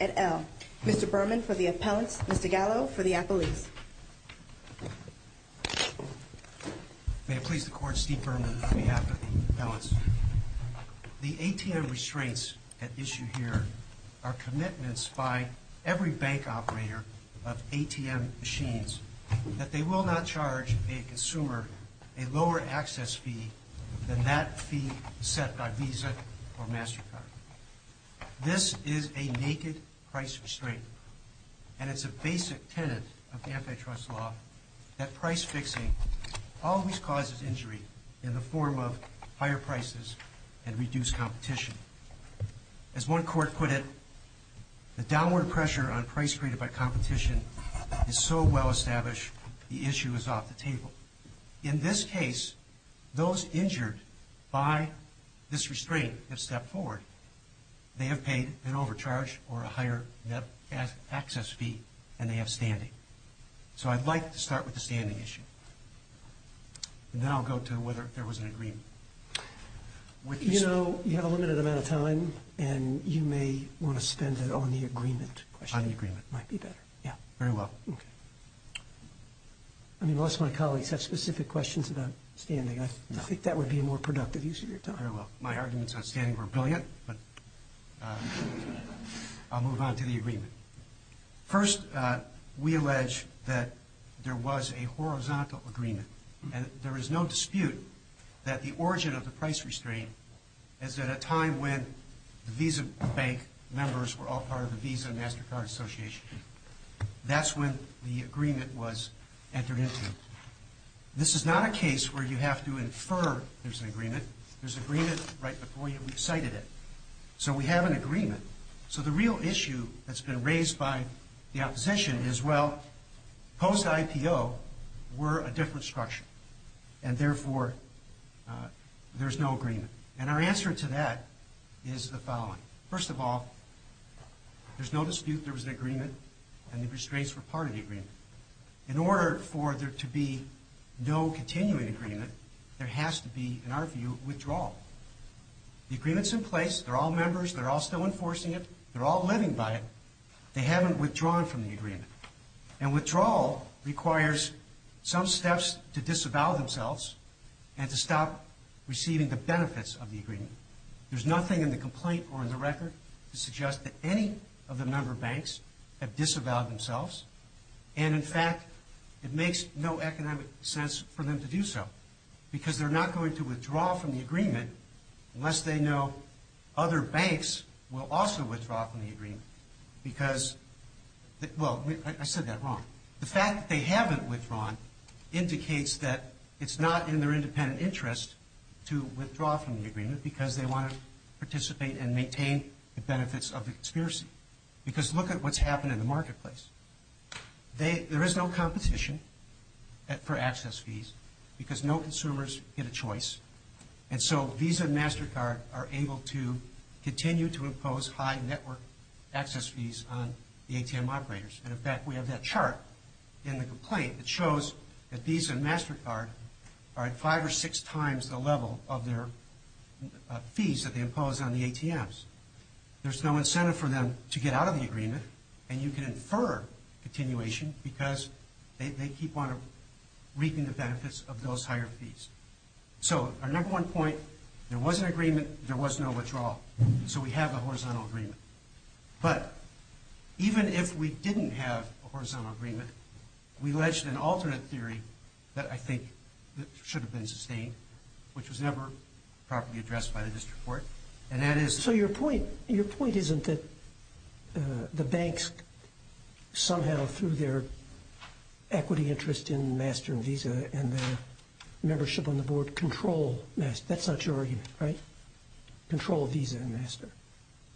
at L. Mr. Berman for the appellants, Mr. Gallo for the appellees. May it please the Court, Steve Berman on behalf of the appellants. The ATM restraints at issue here are commitments by every bank operator of ATM machines that they will not charge a consumer a lower access fee than that fee set by Visa or MasterCard. This is a naked price restraint, and it's a basic tenet of antitrust law that price fixing always causes injury in the form of higher prices and reduced competition. As one court put it, the downward In this case, those injured by this restraint have stepped forward. They have paid an overcharge or a higher net access fee, and they have standing. So I'd like to start with the standing issue. And then I'll go to whether there was an agreement. You know, you have a limited amount of time, and you may want to spend it on the agreement. On the agreement. Might be better. Yeah, very well. Okay. Unless my colleagues have specific questions about standing, I think that would be a more productive use of your time. Very well. My arguments on standing were brilliant, but I'll move on to the agreement. First, we allege that there was a horizontal agreement, and there is no dispute that the origin of the price restraint is at a time when the Visa bank members were all part of the Visa MasterCard Association. That's when the agreement was entered into. This is not a case where you have to infer there's an agreement. There's agreement right before you. We've cited it. So we have an agreement. So the real issue that's been raised by the opposition is, well, post-IPO, we're a different structure, and therefore, there's no agreement. And our answer to that is the following. First of all, there's no dispute there was an agreement, and the restraints were part of the agreement. In order for there to be no continuing agreement, there has to be, in our view, withdrawal. The agreement's in place. They're all members. They're all still enforcing it. They're all living by it. They haven't withdrawn from the agreement. And withdrawal requires some steps to disavow themselves and to stop receiving the benefits of the agreement. There's nothing in the complaint or in the record to suggest that any of the member banks have disavowed themselves. And in fact, it makes no economic sense for them to do so, because they're not going to withdraw from the agreement unless they know other banks will also withdraw from the agreement. Because, well, I said that wrong. The fact that they haven't withdrawn indicates that it's not in their independent interest to withdraw from the agreement, because they want to participate and maintain the benefits of the conspiracy. Because look at what's happened in the marketplace. There is no competition for access fees, because no consumers get a choice. And so Visa and MasterCard are able to continue to impose high network access fees on the ATM operators. And in fact, we have that chart in the complaint that shows that Visa and MasterCard are at five or six times the level of their fees that they impose on the ATMs. There's no incentive for them to get out of the agreement. And you can infer continuation, because they keep on reaping the benefits of those higher fees. So our number one point, there was an agreement, there was no withdrawal. So we have a horizontal agreement. But even if we didn't have a horizontal agreement, we ledged an alternate theory that I think should have been sustained, which was never properly addressed by the district court, and that is... Your point isn't that the banks somehow, through their equity interest in Master and Visa, and their membership on the board, control Master. That's not your argument, right? Control Visa and Master.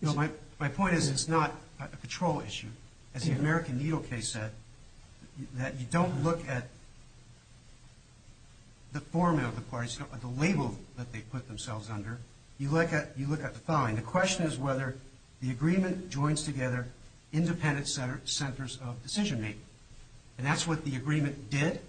No, my point is it's not a control issue. As the American Needle case said, that you don't look at the formula of the parties, you don't look at the label that they put themselves under. You look at the following. The question is whether the agreement joins together independent centers of decision-making. And that's what the agreement did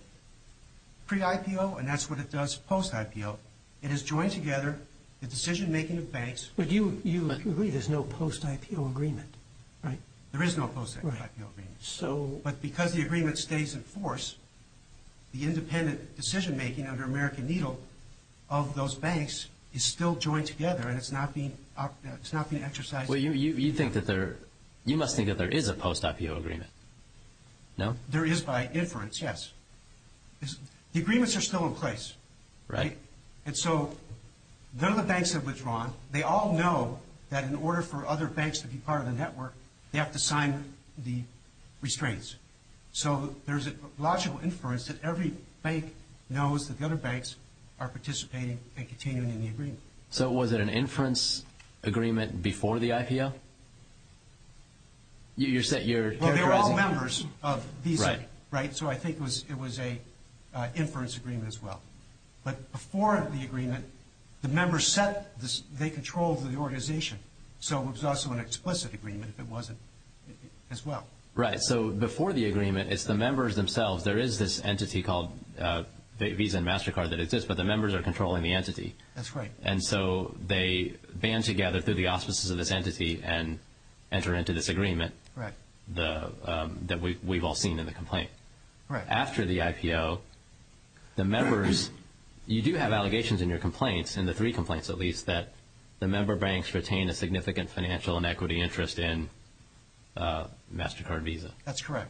pre-IPO, and that's what it does post-IPO. It has joined together the decision-making of banks... But you agree there's no post-IPO agreement, right? There is no post-IPO agreement. But because the agreement stays in force, the independent decision-making under American Needle of those banks is still joined together, and it's not being exercised... Well, you must think that there is a post-IPO agreement. No? There is by inference, yes. The agreements are still in place, right? And so they're the banks that withdraw on. So they all know that in order for other banks to be part of the network, they have to sign the restraints. So there's a logical inference that every bank knows that the other banks are participating and continuing in the agreement. So was it an inference agreement before the IPO? Well, they're all members of Visa, right? So I think it was an inference agreement as well. But before the agreement, the members controlled the organization. So it was also an explicit agreement if it wasn't as well. Right. So before the agreement, it's the members themselves. There is this entity called Visa and MasterCard that exists, but the members are controlling the entity. That's right. And so they band together through the auspices of this entity and enter into this agreement that we've all seen in the complaint. Right. After the IPO, the members – you do have allegations in your complaints, in the three complaints at least, that the member banks retain a significant financial and equity interest in MasterCard Visa. That's correct.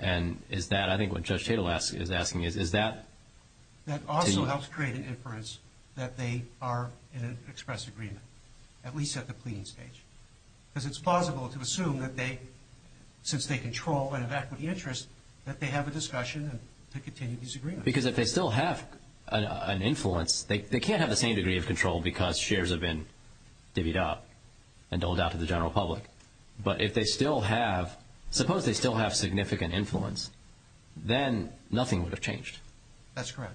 And is that – I think what Judge Tatel is asking is, is that – That also helps create an inference that they are in an express agreement, at least at the pleading stage. Because it's plausible to assume that they – since they control and have equity interest, that they have a discussion and to continue this agreement. Because if they still have an influence, they can't have the same degree of control because shares have been divvied up and doled out to the general public. But if they still have – suppose they still have significant influence, then nothing would have changed. That's correct.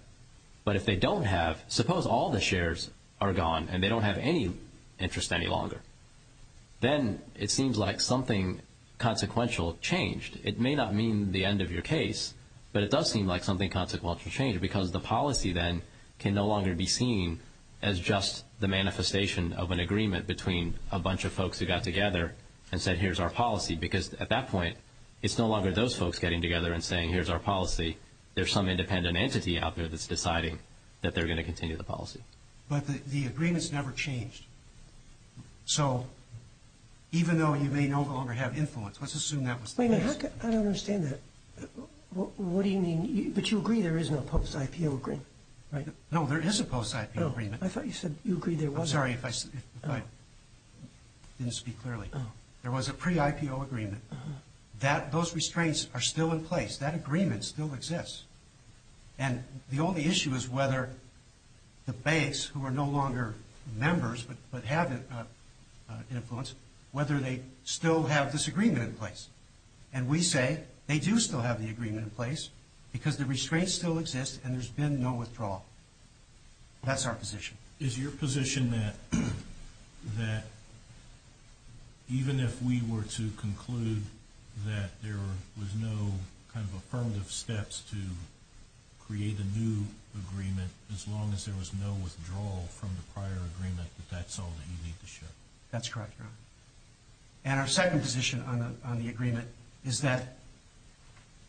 But if they don't have – suppose all the shares are gone and they don't have any interest any longer. Then it seems like something consequential changed. It may not mean the end of your case, but it does seem like something consequential changed because the policy then can no longer be seen as just the manifestation of an agreement between a bunch of folks who got together and said, here's our policy. Because at that point, it's no longer those folks getting together and saying, here's our policy. There's some independent entity out there that's deciding that they're going to continue the policy. But the agreement's never changed. So even though you may no longer have influence, let's assume that was the case. Wait a minute. I don't understand that. What do you mean – but you agree there is no post-IPO agreement, right? No, there is a post-IPO agreement. I thought you said you agreed there was. I'm sorry if I didn't speak clearly. There was a pre-IPO agreement. Those restraints are still in place. That agreement still exists. And the only issue is whether the banks, who are no longer members but have influence, whether they still have this agreement in place. And we say they do still have the agreement in place because the restraints still exist and there's been no withdrawal. That's our position. Is your position that even if we were to conclude that there was no kind of affirmative steps to create a new agreement, as long as there was no withdrawal from the prior agreement, that that's all that you need to show? That's correct, Your Honor. And our second position on the agreement is that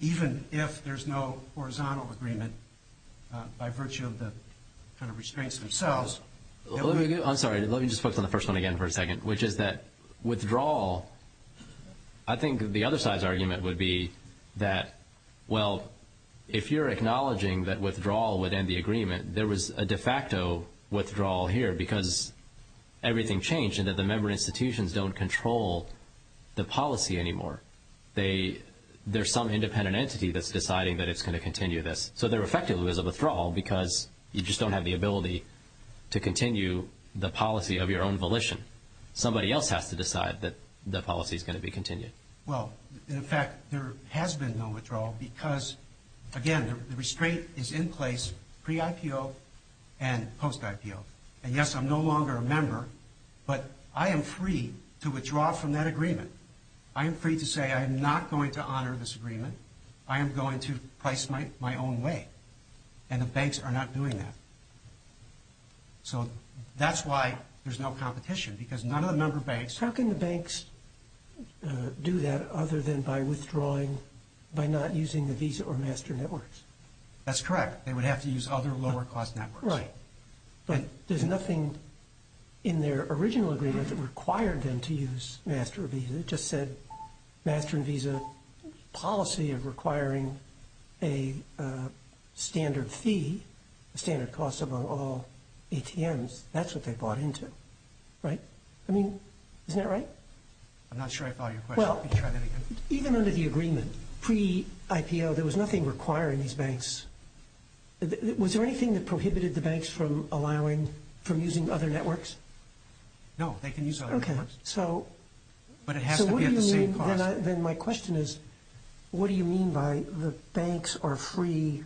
even if there's no horizontal agreement, by virtue of the kind of restraints themselves. I'm sorry. Let me just focus on the first one again for a second, which is that withdrawal, I think the other side's argument would be that, well, if you're acknowledging that withdrawal would end the agreement, there was a de facto withdrawal here because everything changed and that the member institutions don't control the policy anymore. There's some independent entity that's deciding that it's going to continue this. So there effectively is a withdrawal because you just don't have the ability to continue the policy of your own volition. Somebody else has to decide that the policy's going to be continued. Well, in fact, there has been no withdrawal because, again, the restraint is in place pre-IPO and post-IPO. And yes, I'm no longer a member, but I am free to withdraw from that agreement. I am free to say I am not going to honor this agreement. I am going to price my own way. And the banks are not doing that. So that's why there's no competition because none of the member banks... How can the banks do that other than by withdrawing, by not using the Visa or Master Networks? That's correct. They would have to use other lower-cost networks. Right. But there's nothing in their original agreement that required them to use Master or Visa. It just said Master and Visa policy of requiring a standard fee, a standard cost among all ATMs. That's what they bought into, right? I mean, isn't that right? I'm not sure I follow your question. Let me try that again. Well, even under the agreement, pre-IPO, there was nothing requiring these banks. Was there anything that prohibited the banks from using other networks? No, they can use other networks. But it has to be at the same cost. Then my question is, what do you mean by the banks are free,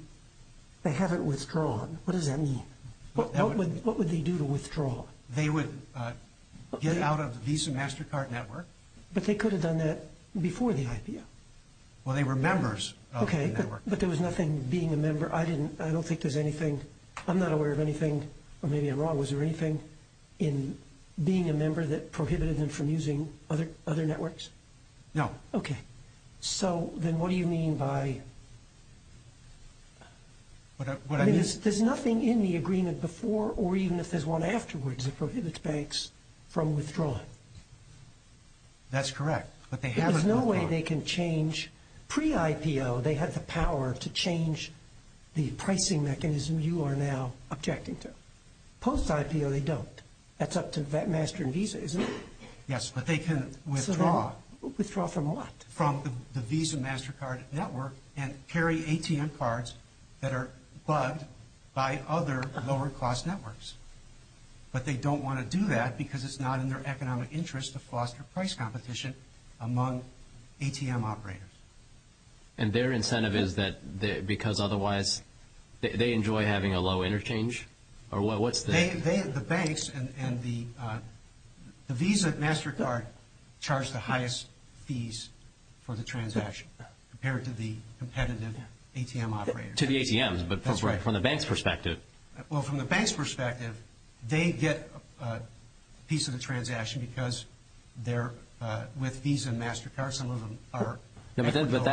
they haven't withdrawn? What does that mean? What would they do to withdraw? They would get out of the Visa, Mastercard Network. But they could have done that before the IPO. Well, they were members of the network. But there was nothing being a member. I don't think there's anything. I'm not aware of anything, or maybe I'm wrong. Was there anything in being a member that prohibited them from using other networks? No. Okay. So then what do you mean by – I mean, there's nothing in the agreement before or even if there's one afterwards that prohibits banks from withdrawing. That's correct. But they haven't withdrawn. There's no way they can change. Pre-IPO, they had the power to change the pricing mechanism you are now objecting to. Post-IPO, they don't. That's up to Master and Visa, isn't it? Yes, but they can withdraw. Withdraw from what? From the Visa, Mastercard Network and carry ATM cards that are bugged by other lower-cost networks. But they don't want to do that because it's not in their economic interest to foster price competition among ATM operators. And their incentive is that because otherwise they enjoy having a low interchange? The banks and the Visa, Mastercard charge the highest fees for the transaction compared to the competitive ATM operators. To the ATMs, but from the bank's perspective. Well, from the bank's perspective, they get a piece of the transaction because they're – with Visa and Mastercard, some of them are – But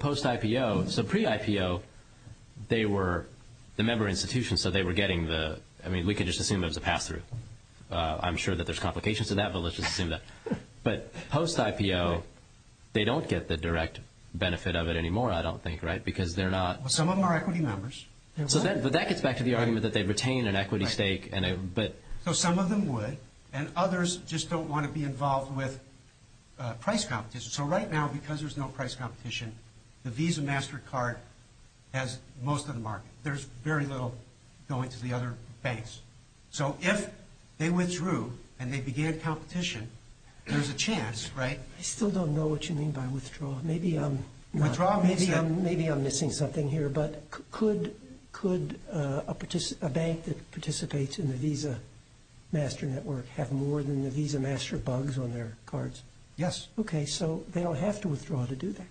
post-IPO – so pre-IPO, they were – the member institutions said they were getting the – I mean, we can just assume it was a pass-through. I'm sure that there's complications to that, but let's just assume that. But post-IPO, they don't get the direct benefit of it anymore, I don't think, right? Because they're not – Well, some of them are equity members. But that gets back to the argument that they retain an equity stake, but – So some of them would, and others just don't want to be involved with price competition. So right now, because there's no price competition, the Visa, Mastercard has most of the market. There's very little going to the other banks. So if they withdrew and they began competition, there's a chance, right? I still don't know what you mean by withdrawal. Maybe I'm – Withdrawal means that – Could a bank that participates in the Visa, Mastercard network have more than the Visa, Mastercard bugs on their cards? Yes. Okay, so they don't have to withdraw to do that.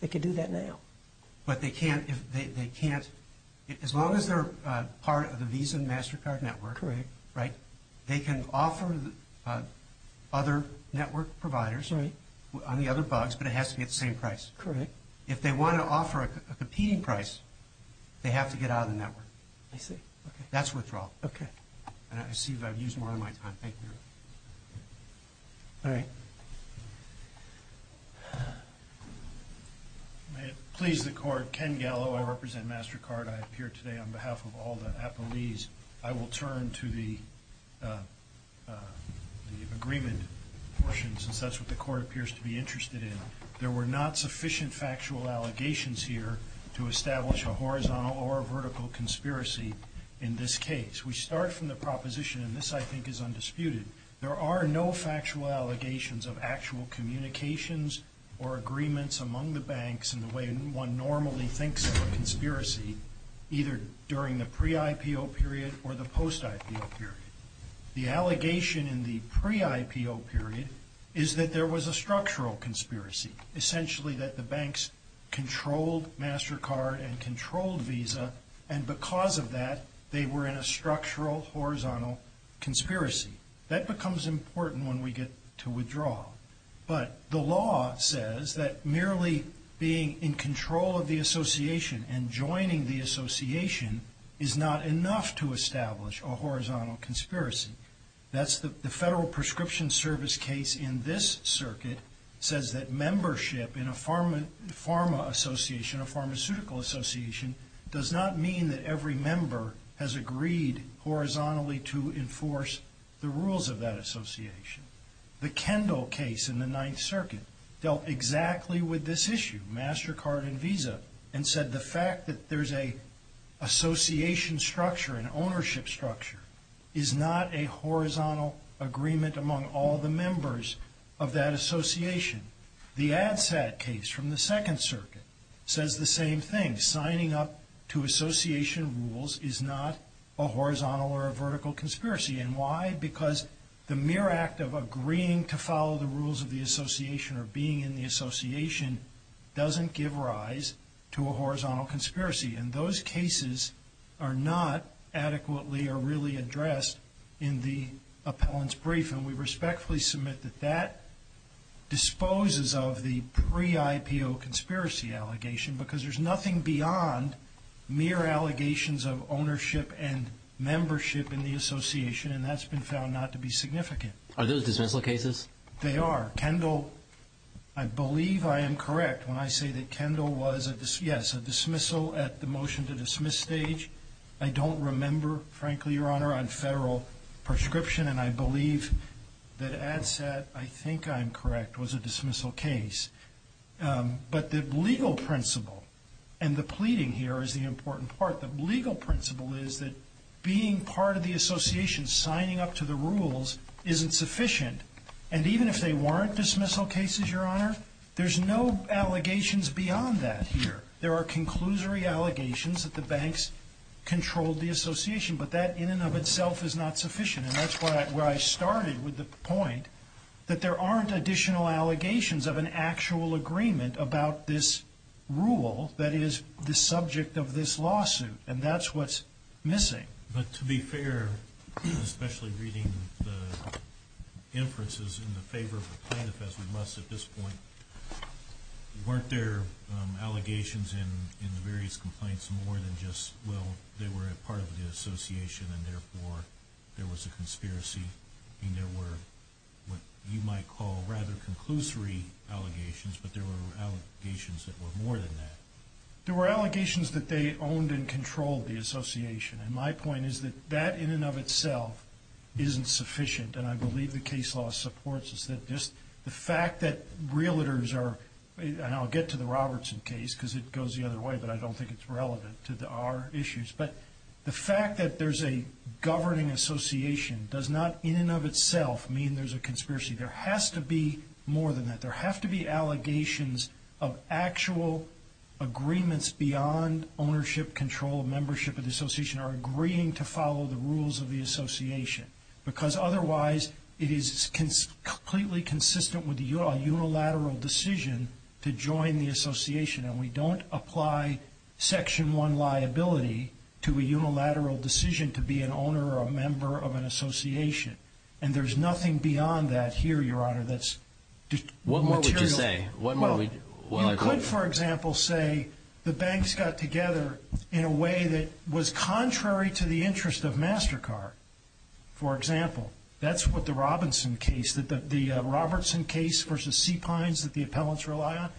They can do that now. But they can't – they can't – as long as they're part of the Visa, Mastercard network – Correct. Right? They can offer other network providers on the other bugs, but it has to be at the same price. Correct. But if they want to offer a competing price, they have to get out of the network. I see. That's withdrawal. Okay. And I see that I've used more of my time. Thank you. All right. May it please the Court. Ken Gallo. I represent Mastercard. I appear today on behalf of all the appellees. I will turn to the agreement portion, since that's what the Court appears to be interested in. There were not sufficient factual allegations here to establish a horizontal or a vertical conspiracy in this case. We start from the proposition – and this, I think, is undisputed – there are no factual allegations of actual communications or agreements among the banks in the way one normally thinks of a conspiracy, either during the pre-IPO period or the post-IPO period. The allegation in the pre-IPO period is that there was a structural conspiracy, essentially that the banks controlled Mastercard and controlled Visa, and because of that, they were in a structural horizontal conspiracy. That becomes important when we get to withdrawal. But the law says that merely being in control of the association and joining the association is not enough to establish a horizontal conspiracy. That's the Federal Prescription Service case in this circuit, says that membership in a pharma association, a pharmaceutical association, does not mean that every member has agreed horizontally to enforce the rules of that association. The Kendall case in the Ninth Circuit dealt exactly with this issue, Mastercard and Visa, and said the fact that there's an association structure, an ownership structure, is not a horizontal agreement among all the members of that association. The ADSAT case from the Second Circuit says the same thing. Signing up to association rules is not a horizontal or a vertical conspiracy. And why? Because the mere act of agreeing to follow the rules of the association or being in the association doesn't give rise to a horizontal conspiracy. And those cases are not adequately or really addressed in the appellant's brief, and we respectfully submit that that disposes of the pre-IPO conspiracy allegation because there's nothing beyond mere allegations of ownership and membership in the association, and that's been found not to be significant. Are those dismissal cases? They are. Kendall, I believe I am correct when I say that Kendall was, yes, a dismissal at the motion to dismiss stage. I don't remember, frankly, Your Honor, on federal prescription, and I believe that ADSAT, I think I'm correct, was a dismissal case. But the legal principle, and the pleading here is the important part, the legal principle is that being part of the association, signing up to the rules, isn't sufficient. And even if they weren't dismissal cases, Your Honor, there's no allegations beyond that here. There are conclusory allegations that the banks controlled the association, but that in and of itself is not sufficient, and that's where I started with the point that there aren't additional allegations of an actual agreement about this rule that is the subject of this lawsuit, and that's what's missing. But to be fair, especially reading the inferences in the favor of the plaintiff, as we must at this point, weren't there allegations in the various complaints more than just, well, they were a part of the association and therefore there was a conspiracy? I mean, there were what you might call rather conclusory allegations, but there were allegations that were more than that. There were allegations that they owned and controlled the association. And my point is that that in and of itself isn't sufficient, and I believe the case law supports this. The fact that realtors are, and I'll get to the Robertson case because it goes the other way, but I don't think it's relevant to our issues, but the fact that there's a governing association does not in and of itself mean there's a conspiracy. There has to be more than that. There have to be allegations of actual agreements beyond ownership, control, membership of the association or agreeing to follow the rules of the association, because otherwise it is completely consistent with a unilateral decision to join the association, and we don't apply Section 1 liability to a unilateral decision to be an owner or a member of an association. And there's nothing beyond that here, Your Honor, that's material. What more would you say? You could, for example, say the banks got together in a way that was contrary to the interest of MasterCard. For example, that's what the Robertson case versus C. Pines that the appellants rely on.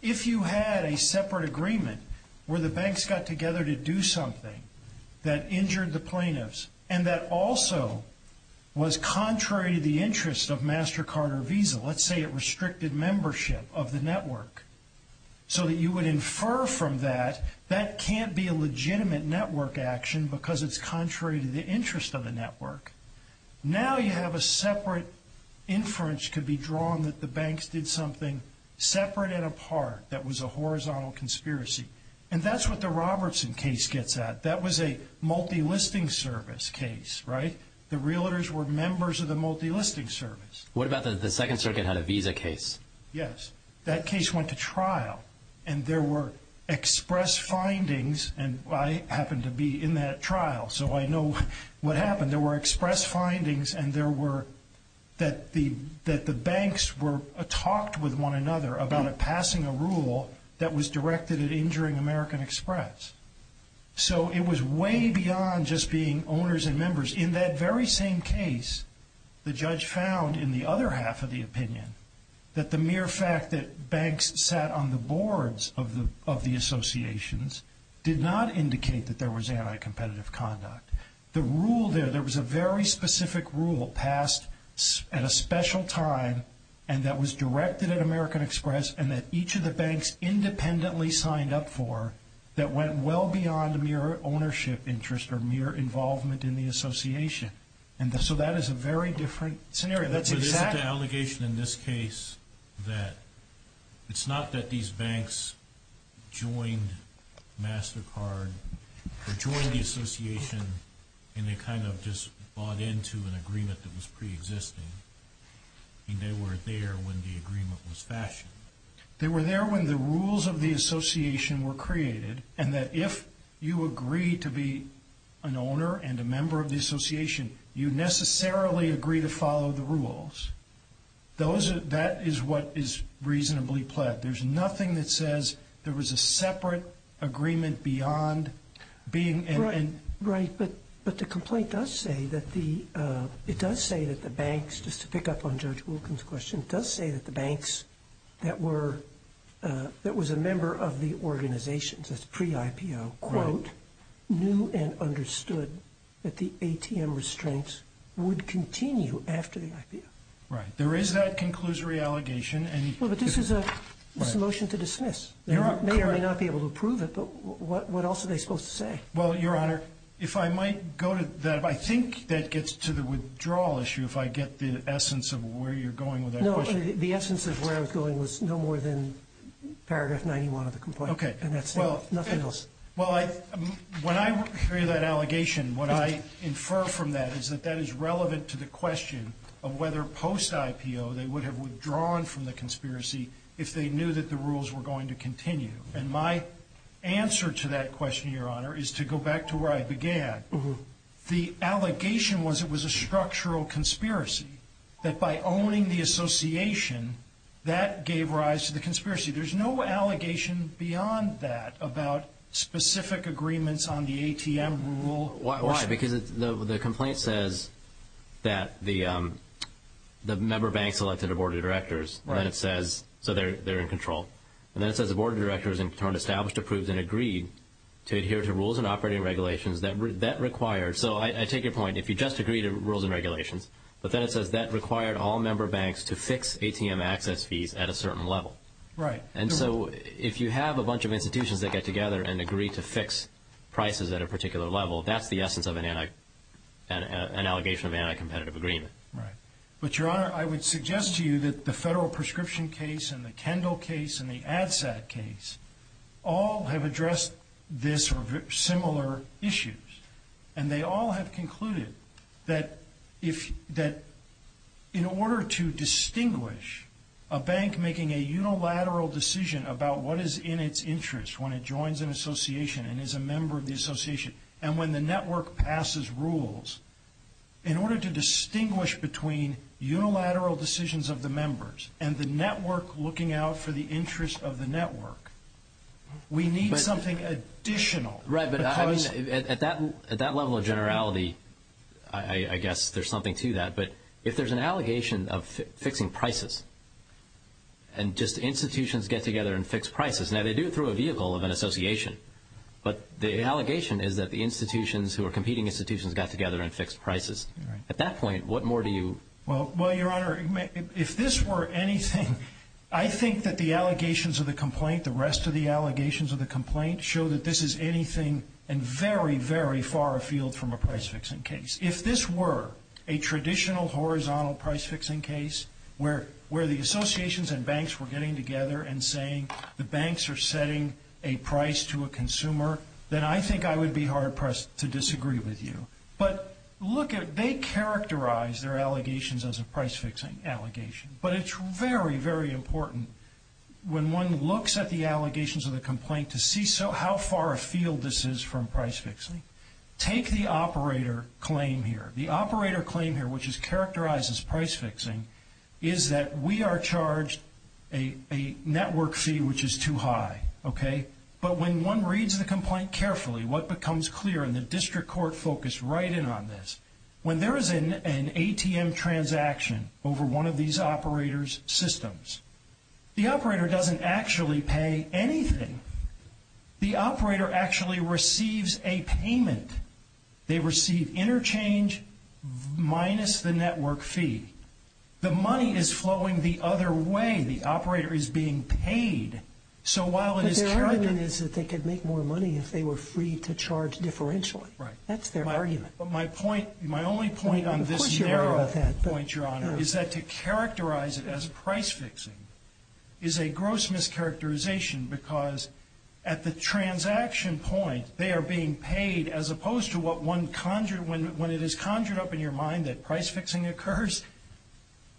If you had a separate agreement where the banks got together to do something that injured the plaintiffs and that also was contrary to the interest of MasterCard or Visa, let's say it restricted membership of the network so that you would infer from that that can't be a legitimate network action because it's contrary to the interest of the network. Now you have a separate inference could be drawn that the banks did something separate and apart that was a horizontal conspiracy, and that's what the Robertson case gets at. That was a multilisting service case, right? The realtors were members of the multilisting service. What about the Second Circuit had a Visa case? Yes. That case went to trial, and there were express findings, and I happened to be in that trial, so I know what happened. There were express findings, and there were that the banks were talked with one another about passing a rule that was directed at injuring American Express. So it was way beyond just being owners and members. In that very same case, the judge found in the other half of the opinion that the mere fact that banks sat on the boards of the associations did not indicate that there was anti-competitive conduct. The rule there, there was a very specific rule passed at a special time and that was directed at American Express and that each of the banks independently signed up for that went well beyond mere ownership interest or mere involvement in the association. So that is a very different scenario. But isn't the allegation in this case that it's not that these banks joined MasterCard or joined the association and they kind of just bought into an agreement that was preexisting. They were there when the agreement was fashioned. They were there when the rules of the association were created and that if you agree to be an owner and a member of the association, you necessarily agree to follow the rules. That is what is reasonably pled. There's nothing that says there was a separate agreement beyond being in. Right, but the complaint does say that the, it does say that the banks, just to pick up on Judge Wilkins' question, does say that the banks that were, that was a member of the organization, that's pre-IPO, quote, knew and understood that the ATM restraints would continue after the IPO. Right. There is that conclusory allegation. Well, but this is a motion to dismiss. You're correct. They may or may not be able to approve it, but what else are they supposed to say? Well, Your Honor, if I might go to that, I think that gets to the withdrawal issue if I get the essence of where you're going with that question. No, the essence of where I was going was no more than paragraph 91 of the complaint. Okay. And that's it, nothing else. Well, when I hear that allegation, what I infer from that is that that is relevant to the question of whether post-IPO they would have withdrawn from the conspiracy if they knew that the rules were going to continue. And my answer to that question, Your Honor, is to go back to where I began. The allegation was it was a structural conspiracy, that by owning the association, that gave rise to the conspiracy. There's no allegation beyond that about specific agreements on the ATM rule. Why? Because the complaint says that the member bank selected a board of directors, so they're in control. And then it says the board of directors in turn established, approved, and agreed to adhere to rules and operating regulations that required. So I take your point. If you just agree to rules and regulations, but then it says that required all member banks to fix ATM access fees at a certain level. Right. And so if you have a bunch of institutions that get together and agree to fix prices at a particular level, that's the essence of an allegation of anti-competitive agreement. Right. But, Your Honor, I would suggest to you that the federal prescription case and the Kendall case and the ADSAT case all have addressed this or similar issues. And they all have concluded that in order to distinguish a bank making a unilateral decision about what is in its interest when it joins an association and is a member of the association, and when the network passes rules, in order to distinguish between unilateral decisions of the members and the network looking out for the interest of the network, we need something additional. Right, but at that level of generality, I guess there's something to that. But if there's an allegation of fixing prices and just institutions get together and fix prices, now they do it through a vehicle of an association, but the allegation is that the institutions who are competing institutions got together and fixed prices. At that point, what more do you? Well, Your Honor, if this were anything, I think that the allegations of the complaint, the rest of the allegations of the complaint, show that this is anything and very, very far afield from a price-fixing case. If this were a traditional horizontal price-fixing case where the associations and banks were getting together and saying the banks are setting a price to a consumer, then I think I would be hard-pressed to disagree with you. But they characterize their allegations as a price-fixing allegation, but it's very, very important when one looks at the allegations of the complaint to see how far afield this is from price-fixing. Take the operator claim here. The operator claim here, which is characterized as price-fixing, is that we are charged a network fee which is too high, okay? But when one reads the complaint carefully, what becomes clear and the district court focus right in on this, when there is an ATM transaction over one of these operators' systems, the operator doesn't actually pay anything. The operator actually receives a payment. They receive interchange minus the network fee. The money is flowing the other way. The operator is being paid. But their argument is that they could make more money if they were free to charge differentially. Right. That's their argument. But my point, my only point on this scenario point, Your Honor, is that to characterize it as price-fixing is a gross mischaracterization because at the transaction point they are being paid as opposed to what one conjured when it is conjured up in your mind that price-fixing occurs.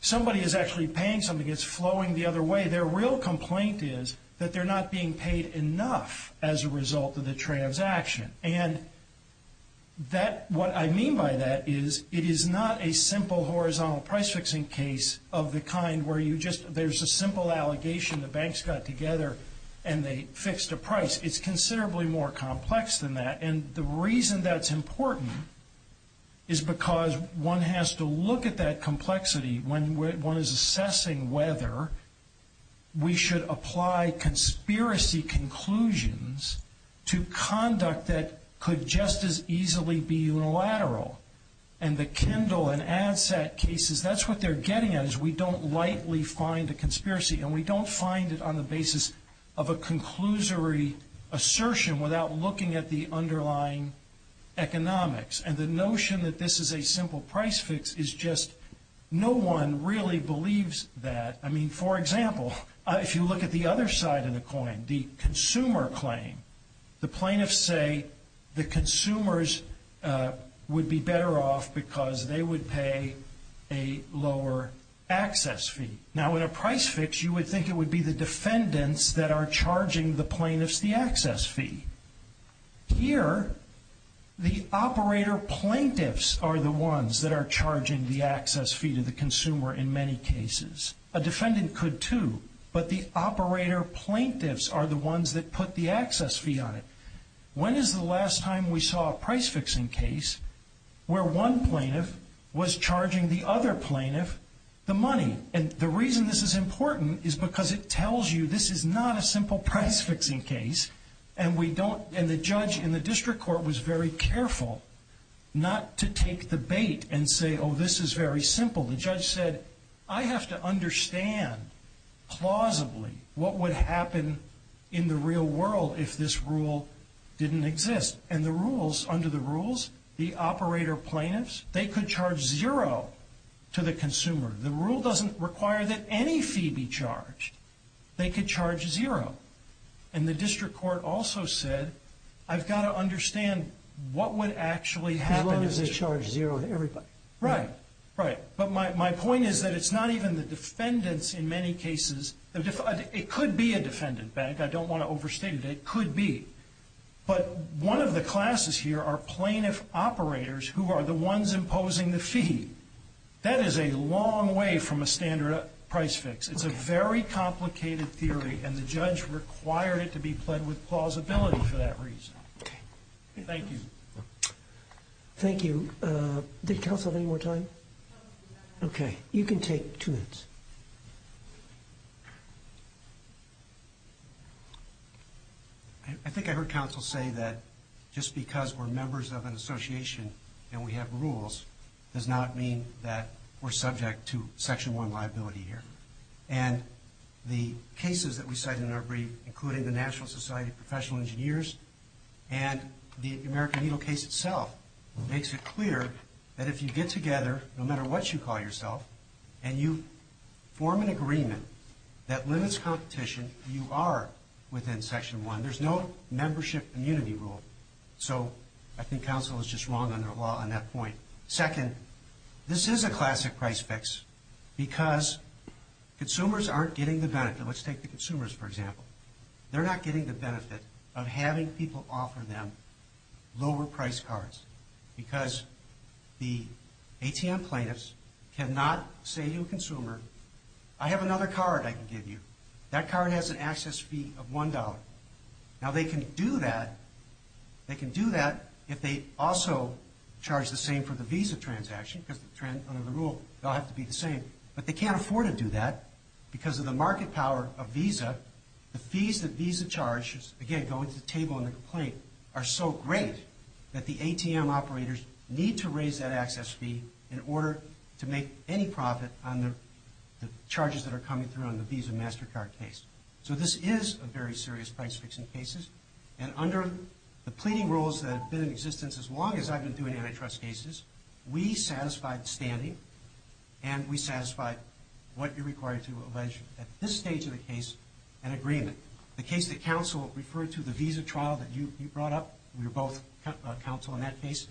Somebody is actually paying something. It's flowing the other way. Their real complaint is that they're not being paid enough as a result of the transaction. And what I mean by that is it is not a simple horizontal price-fixing case of the kind where there's a simple allegation the banks got together and they fixed a price. It's considerably more complex than that. And the reason that's important is because one has to look at that complexity when one is assessing whether we should apply conspiracy conclusions to conduct that could just as easily be unilateral. And the Kindle and ADSAT cases, that's what they're getting at, is we don't lightly find a conspiracy, and we don't find it on the basis of a conclusory assertion without looking at the underlying economics. And the notion that this is a simple price-fix is just no one really believes that. I mean, for example, if you look at the other side of the coin, the consumer claim, the plaintiffs say the consumers would be better off because they would pay a lower access fee. Now, in a price-fix, you would think it would be the defendants that are charging the plaintiffs the access fee. Here, the operator plaintiffs are the ones that are charging the access fee to the consumer in many cases. A defendant could too, but the operator plaintiffs are the ones that put the access fee on it. When is the last time we saw a price-fixing case where one plaintiff was charging the other plaintiff the money? And the reason this is important is because it tells you this is not a simple price-fixing case and the judge in the district court was very careful not to take the bait and say, oh, this is very simple. The judge said, I have to understand plausibly what would happen in the real world if this rule didn't exist. And the rules, under the rules, the operator plaintiffs, they could charge zero to the consumer. The rule doesn't require that any fee be charged. They could charge zero. And the district court also said, I've got to understand what would actually happen. As long as they charge zero to everybody. Right, right. But my point is that it's not even the defendants in many cases. It could be a defendant. I don't want to overstate it. It could be. But one of the classes here are plaintiff operators who are the ones imposing the fee. That is a long way from a standard price-fix. It's a very complicated theory. And the judge required it to be played with plausibility for that reason. Okay. Thank you. Thank you. Did counsel have any more time? Okay. You can take two minutes. I think I heard counsel say that just because we're members of an association and we have rules does not mean that we're subject to Section 1 liability here. And the cases that we cite in our brief, including the National Society of Professional Engineers and the American Needle case itself, makes it clear that if you get together, no matter what you call yourself, and you form an agreement that limits competition, you are within Section 1. There's no membership immunity rule. So I think counsel is just wrong on that point. Second, this is a classic price-fix because consumers aren't getting the benefit. Let's take the consumers, for example. They're not getting the benefit of having people offer them lower-priced cards because the ATM plaintiffs cannot say to a consumer, I have another card I can give you. That card has an access fee of $1. Now they can do that if they also charge the same for the visa transaction because under the rule they'll have to be the same. But they can't afford to do that because of the market power of visa. The fees that visa charges, again, go into the table in the complaint, are so great that the ATM operators need to raise that access fee in order to make any profit on the charges that are coming through on the Visa MasterCard case. So this is a very serious price-fix in cases. And under the pleading rules that have been in existence as long as I've been doing antitrust cases, we satisfied standing and we satisfied what you're required to allege at this stage of the case, an agreement. The case that counsel referred to, the visa trial that you brought up, we were both counsel in that case.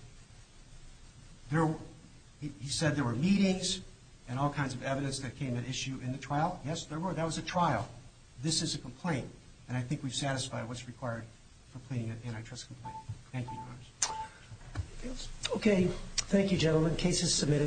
He said there were meetings and all kinds of evidence that came at issue in the trial. Yes, there were. That was a trial. This is a complaint. And I think we've satisfied what's required for pleading an antitrust complaint. Thank you. Okay. Thank you, gentlemen. Case is submitted.